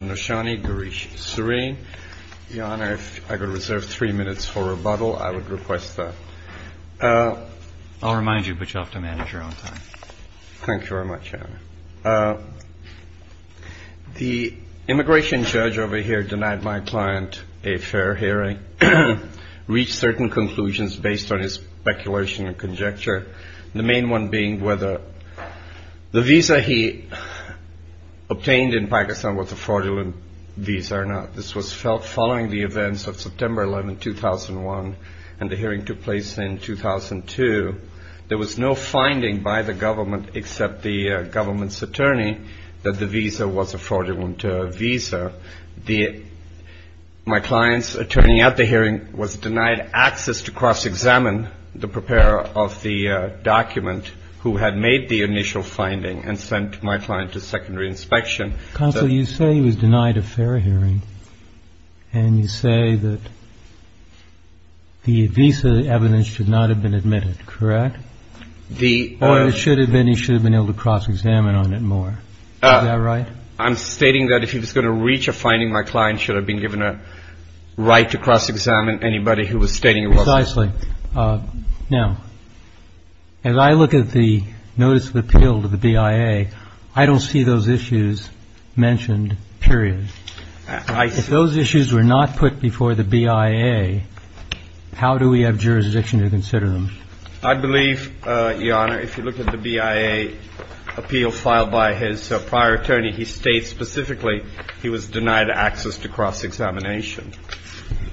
The immigration judge denied my client a fair hearing, reached certain conclusions based on his speculation and conjecture, the main one being whether the visa he obtained in September 2011 was a fraudulent visa or not. This was felt following the events of September 11, 2001, and the hearing took place in 2002. There was no finding by the government except the government's attorney that the visa was a fraudulent visa. My client's attorney at the hearing was denied access to cross-examine the preparer of the document who had made the initial finding and sent my client to secondary inspection. Mr. Connolly, you say he was denied a fair hearing, and you say that the visa evidence should not have been admitted, correct? Or he should have been able to cross-examine on it more. Is that right? Mr. Connolly I'm stating that if he was going to reach a finding, my client should have been given a right to cross-examine anybody who was stating it wasn't. Mr. Connolly Precisely. Now, as I look at the Notice of BIA, if those issues were not put before the BIA, how do we have jurisdiction to consider Mr. Connolly I believe, Your Honor, if you look at the BIA appeal filed by his prior attorney, he states specifically he was denied access to cross-examination.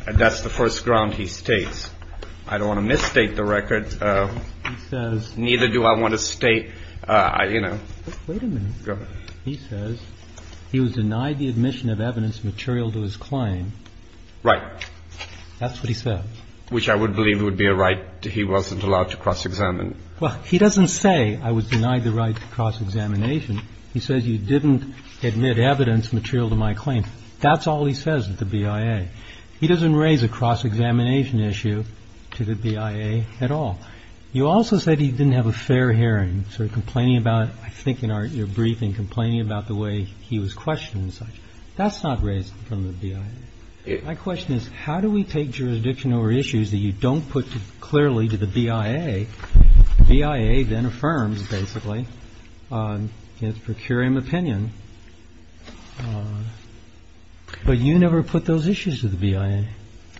And that's the first ground he states. I don't want to misstate the record. He says neither do I want to state, you know. Mr. Connolly Wait a minute. He says he was denied the admission of evidence material to his claim. Mr. Connolly Right. Mr. Connolly That's what he says. Mr. Connolly Which I believe would be a right. He wasn't allowed to cross-examine. Mr. Connolly Well, he doesn't say I was denied the right to cross-examination. He says you didn't admit evidence material to my claim. That's all he says at the BIA. He doesn't raise a cross-examination issue to the BIA at all. You also said he didn't have a fair hearing, sort of complaining about, I think in your briefing, complaining about the way he was questioned and such. That's not raised from the BIA. My question is, how do we take jurisdiction over issues that you don't put clearly to the BIA? The BIA then Mr. Connolly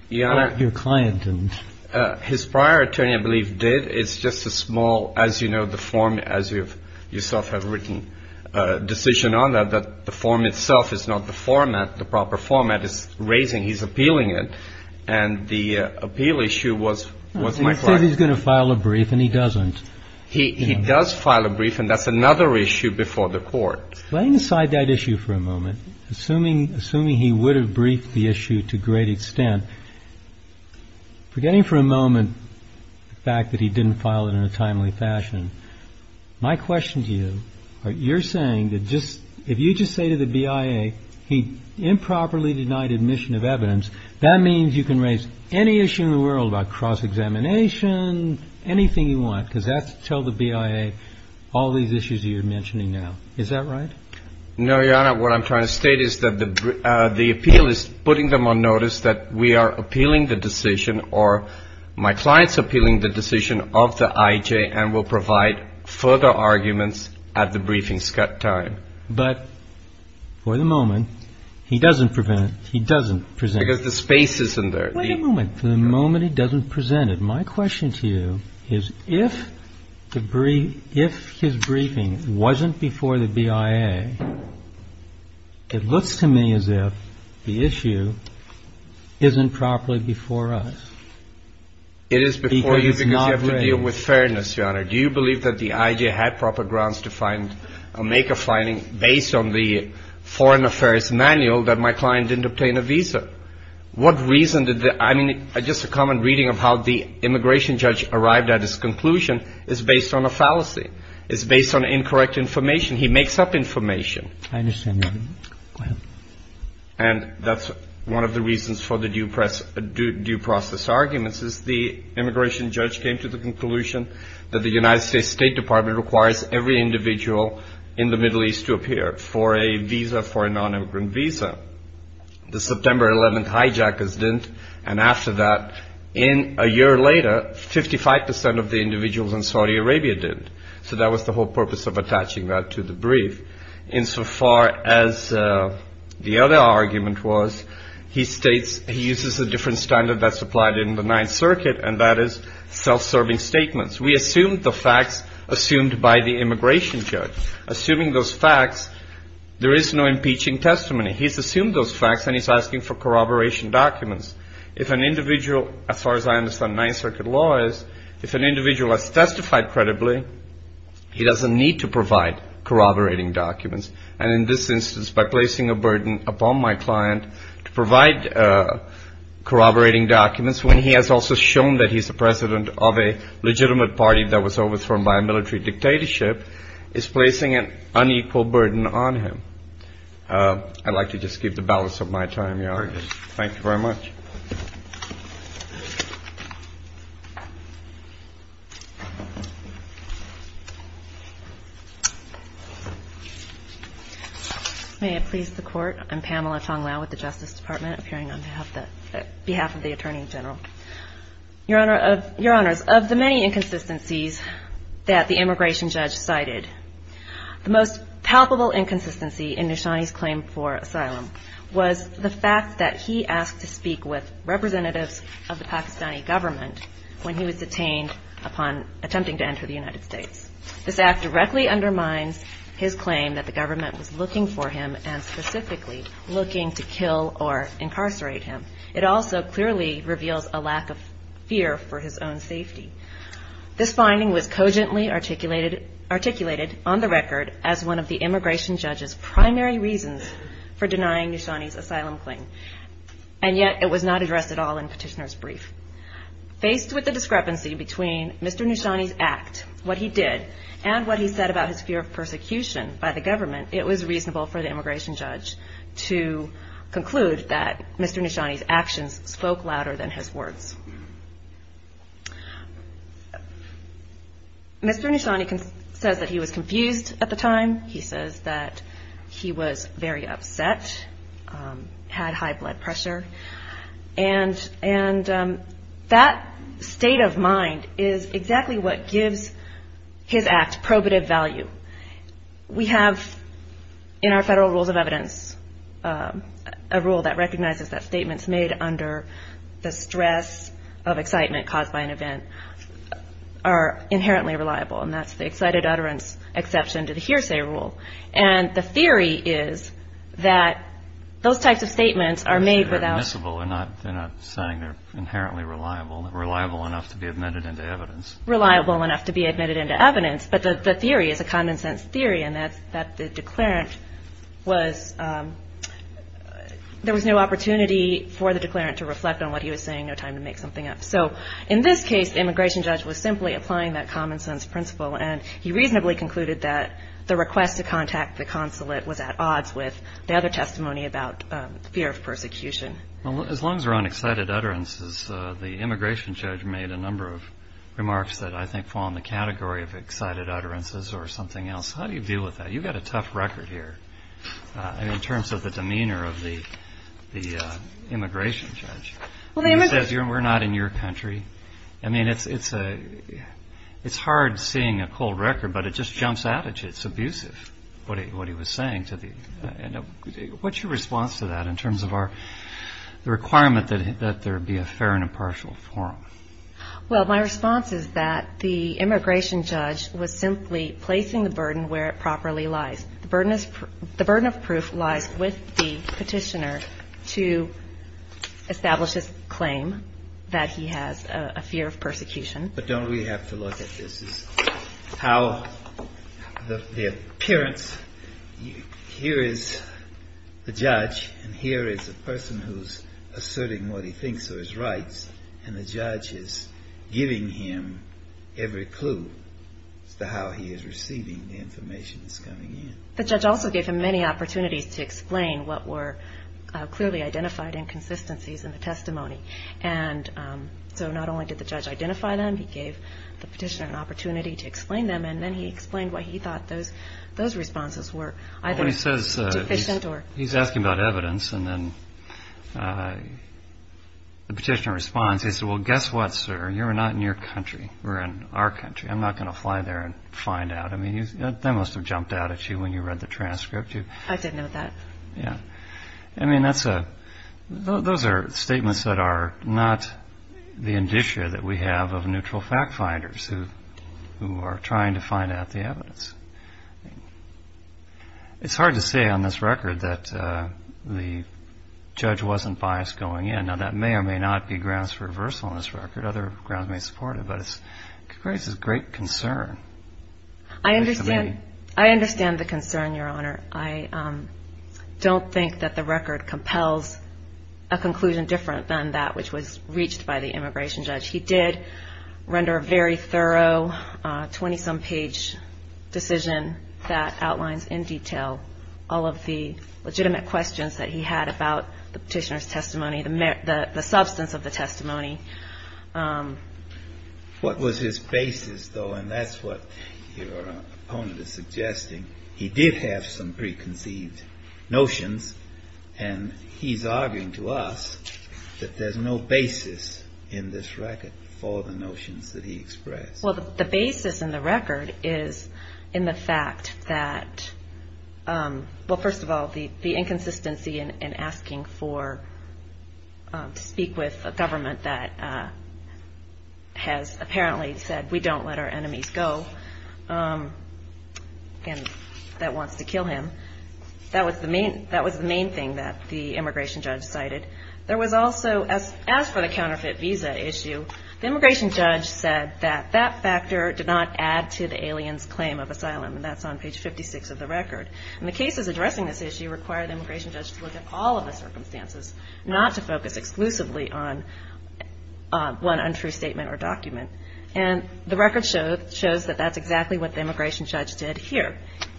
Your Honor, his prior attorney I believe did. It's just a small, as you know, the form, as you yourself have written a decision on that, that the form itself is not the format, the proper format is raising. He's appealing it. And the appeal issue was my client. Mr. Connolly Let's say he's going to file a brief and he doesn't. Mr. Connolly He does file a brief and that's another issue before the court. Laying aside that issue for a moment, assuming assuming he would have briefed the issue to great extent. Forgetting for a moment the fact that he didn't file it in a timely fashion. My question to you, you're saying that just if you just say to the BIA, he improperly denied admission of evidence. That means you can raise any issue in the world about cross-examination, anything you want. Because that's to tell the BIA all these issues you're mentioning now. Is that right? Mr. Connolly No, Your Honor. What I'm trying to state is that the appeal is putting them on notice that we are appealing the decision or my clients appealing the decision of the IJ and will provide further arguments at the briefing time. But for the moment, he doesn't prevent. He doesn't present because the space isn't there. Wait a moment for the moment. He doesn't present it. My question to you is if the brief if his briefing wasn't before the BIA. It looks to me as if the issue isn't properly before us. It is before you because you have to deal with fairness, Your Honor. Do you believe that the IJ had proper grounds to find or make a finding based on the foreign affairs manual that my client didn't obtain a visa? What reason did the I mean, just a common reading of how the immigration judge arrived at his conclusion is based on a fallacy. It's based on incorrect information. He makes up information. And that's one of the reasons for the due press due process arguments is the immigration judge came to the conclusion that the United States State Department requires every individual in the Middle East to appear for a visa for a non-immigrant visa. The September 11th hijackers didn't. And after that, in a year later, 55 percent of the individuals in Saudi Arabia did. So that was the whole purpose of attaching that to the brief. Insofar as the other argument was, he states he uses a different standard that's applied in the Ninth Circuit. And that is self-serving statements. We assumed the facts assumed by the immigration judge, assuming those facts. There is no impeaching testimony. He's assumed those facts and he's asking for corroboration documents. If an individual, as far as I understand, Ninth Circuit law is, if an individual has testified credibly, he doesn't need to provide corroborating documents. And in this instance, by placing a burden upon my client to provide corroborating documents when he has also shown that he's the president of a legitimate party that was overthrown by a military dictatorship is placing an unequal burden on him. I'd like to just give the balance of my time, Your Honor. Thank you very much. May it please the Court. I'm Pamela Tong-Lau with the Justice Department appearing on behalf of the Attorney General. Your Honor, of the many inconsistencies that the immigration judge cited, the most palpable inconsistency in Nishani's claim for asylum was the fact that he asked to speak with representatives of the Pakistani government when he was detained upon attempting to enter the United States. This act directly undermines his claim that the government was looking for him and specifically looking to kill or incarcerate him. It also clearly reveals a lack of fear for his own safety. This finding was cogently articulated on the record as one of the immigration judge's primary reasons for denying Nishani's asylum claim, and yet it was not addressed at all in Petitioner's brief. Faced with the discrepancy between Mr. Nishani's act, what he did, and what he said about his fear of persecution by the government, it was reasonable for the immigration judge to conclude that Mr. Nishani's actions spoke louder than his words. Mr. Nishani says that he was confused at the time. He says that he was very upset, had high blood pressure, and that state of mind is exactly what gives his act probative value. We have in our federal rules of evidence a rule that recognizes that statements made under the stress of excitement caused by an event are inherently reliable, and that's the excited utterance exception to the hearsay rule. And the theory is that those types of statements are made without… There was no opportunity for the declarant to reflect on what he was saying, no time to make something up. So in this case, the immigration judge was simply applying that common sense principle, and he reasonably concluded that the request to contact the consulate was at odds with the other testimony about fear of persecution. Well, as long as we're on excited utterances, the immigration judge made a number of remarks that I think fall in the category of excited utterances or something else. How do you deal with that? You've got a tough record here in terms of the demeanor of the immigration judge. And he says, we're not in your country. I mean, it's hard seeing a cold record, but it just jumps out at you. It's abusive, what he was saying. What's your response to that in terms of the requirement that there be a fair and impartial forum? Well, my response is that the immigration judge was simply placing the burden where it properly lies. The burden of proof lies with the petitioner to establish his claim that he has a fear of persecution. But don't we have to look at this as how the appearance, here is the judge, and here is a person who's asserting what he thinks are his rights, and the judge is giving him every clue as to how he is receiving the information that's coming in. The judge also gave him many opportunities to explain what were clearly identified inconsistencies in the testimony. And so not only did the judge identify them, he gave the petitioner an opportunity to explain them, and then he explained why he thought those responses were either deficient or... I mean, those are statements that are not the indicia that we have of neutral fact-finders who are trying to find out the evidence. It's hard to say on this record that the judge wasn't biased going in. Now, that may or may not be grounds for reversal on this record. Other grounds may support it, but it's a great concern. I understand the concern, Your Honor. I don't think that the record compels a conclusion different than that which was reached by the immigration judge. He did render a very thorough 20-some page decision that outlines in detail all of the legitimate questions that he had about the petitioner's testimony, the substance of the testimony. What was his basis, though? And that's what your opponent is suggesting. He did have some preconceived notions, and he's arguing to us that there's no basis in this record for the notions that he expressed. Well, the basis in the record is in the fact that, well, first of all, the inconsistency in asking to speak with a government that has apparently said, we don't let our enemies go, and that wants to kill him. That was the main thing that the immigration judge cited. There was also, as for the counterfeit visa issue, the immigration judge said that that factor did not add to the alien's claim of asylum, and that's on page 56 of the record. And the cases addressing this issue require the immigration judge to look at all of the circumstances, not to focus exclusively on one untrue statement or document. And the record shows that that's exactly what the immigration judge did here.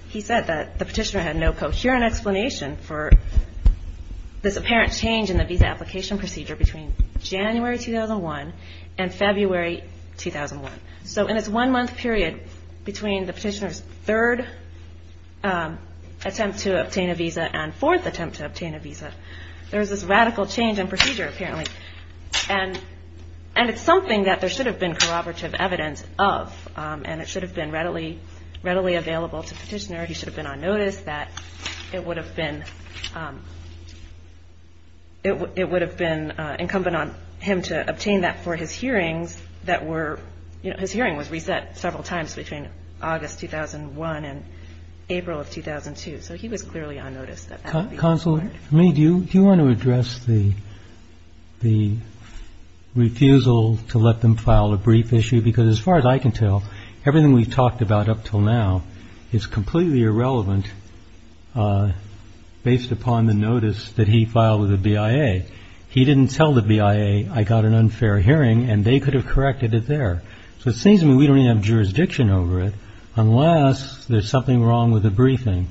He said that the petitioner had no coherent explanation for this apparent change in the visa application procedure between January 2001 and February 2001. So in this one-month period between the petitioner's third attempt to obtain a visa and fourth attempt to obtain a visa, there was this radical change in procedure, apparently. And it's something that there should have been corroborative evidence of, and it should have been readily available to the petitioner. He should have been on notice that it would have been incumbent on him to obtain that for his hearings that were, you know, his hearing was reset several times between August 2001 and April of 2002. So he was clearly on notice that that would be required. Do you want to address the refusal to let them file a brief issue? Because as far as I can tell, everything we've talked about up until now is completely irrelevant based upon the notice that he filed with the BIA. He didn't tell the BIA, I got an unfair hearing, and they could have corrected it there. So it seems to me we don't even have jurisdiction over it unless there's something wrong with the briefing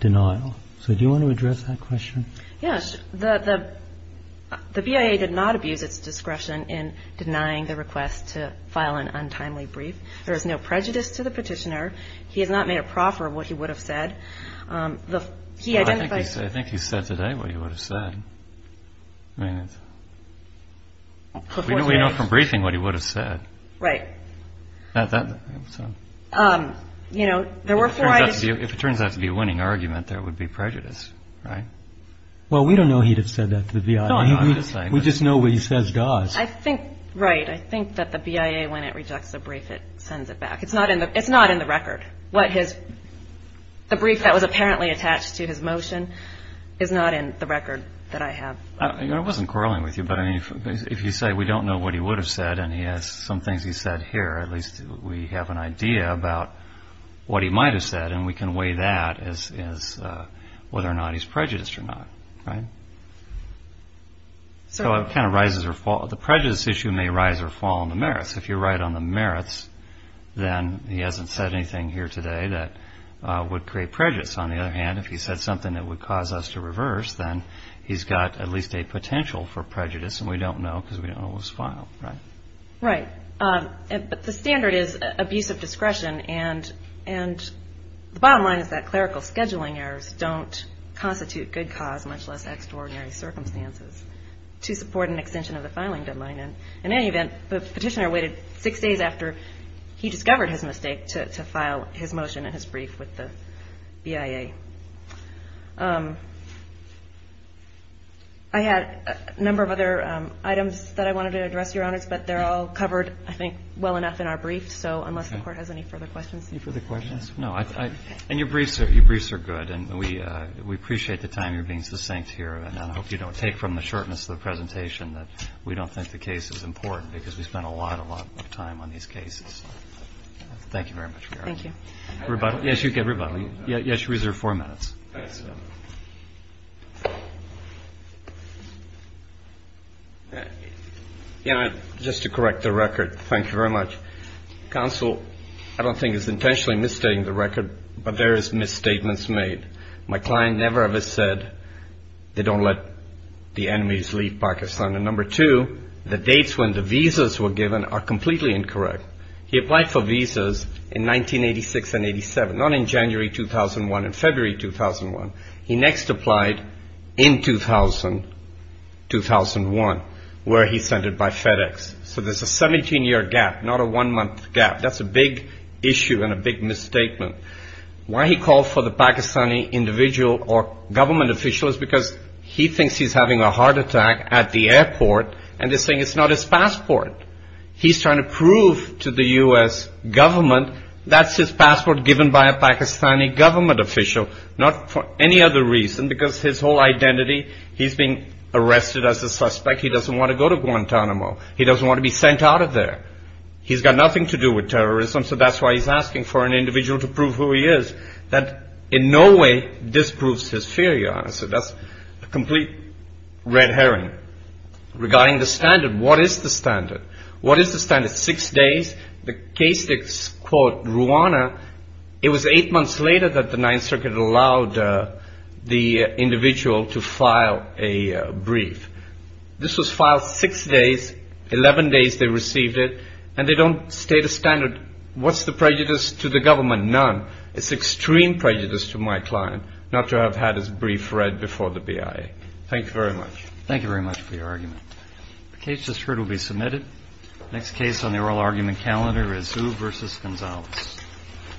denial. So do you want to address that question? Yes. The BIA did not abuse its discretion in denying the request to file an untimely brief. There is no prejudice to the petitioner. He has not made a proffer of what he would have said. I think he said today what he would have said. We know from briefing what he would have said. Right. If it turns out to be a winning argument, there would be prejudice, right? Well, we don't know he'd have said that to the BIA. We just know what he says does. Right. I think that the BIA, when it rejects a brief, it sends it back. It's not in the record. The brief that was apparently attached to his motion is not in the record that I have. I wasn't quarreling with you, but if you say we don't know what he would have said and he has some things he said here, at least we have an idea about what he might have said, and we can weigh that as whether or not he's prejudiced or not, right? So it kind of rises or falls. The prejudice issue may rise or fall on the merits. If you're right on the merits, then he hasn't said anything here today that would create prejudice. On the other hand, if he said something that would cause us to reverse, then he's got at least a potential for prejudice, and we don't know because we don't know what was filed, right? Right. But the standard is abuse of discretion, and the bottom line is that clerical scheduling errors don't constitute good cause, much less extraordinary circumstances, to support an extension of the filing deadline. And in any event, the petitioner waited six days after he discovered his mistake to file his motion and his brief with the BIA. I had a number of other items that I wanted to address, Your Honors, but they're all covered, I think, well enough in our briefs, so unless the Court has any further questions. Any further questions? No. And your briefs are good, and we appreciate the time you're being succinct here, and I hope you don't take from the shortness of the presentation that we don't think the case is important because we spent a lot, a lot of time on these cases. Thank you very much. Thank you. Rebuttal? Yes, you get rebuttal. Yes, you reserve four minutes. Just to correct the record, thank you very much. Counsel, I don't think it's intentionally misstating the record, but there is misstatements made. My client never ever said they don't let the enemies leave Pakistan, and number two, the dates when the visas were given are completely incorrect. He applied for visas in 1986 and 87, not in January 2001 and February 2001. He next applied in 2000, 2001, where he sent it by FedEx, so there's a 17-year gap, not a one-month gap. That's a big issue and a big misstatement. Why he called for the Pakistani individual or government official is because he thinks he's having a heart attack at the airport, and they're saying it's not his passport. He's trying to prove to the U.S. government that's his passport given by a Pakistani government official, not for any other reason because his whole identity, he's being arrested as a suspect. He doesn't want to go to Guantanamo. He doesn't want to be sent out of there. He's got nothing to do with terrorism, so that's why he's asking for an individual to prove who he is. That in no way disproves his theory, honestly. That's a complete red herring. Regarding the standard, what is the standard? What is the standard? Six days? The case that's called Rwanda, it was eight months later that the Ninth Circuit allowed the individual to file a brief. This was filed six days. Eleven days they received it, and they don't state a standard. What's the prejudice to the government? None. It's extreme prejudice to my client not to have had his brief read before the BIA. Thank you very much. Thank you very much for your argument. The case that's heard will be submitted. Next case on the oral argument calendar is Hu versus Gonzalez.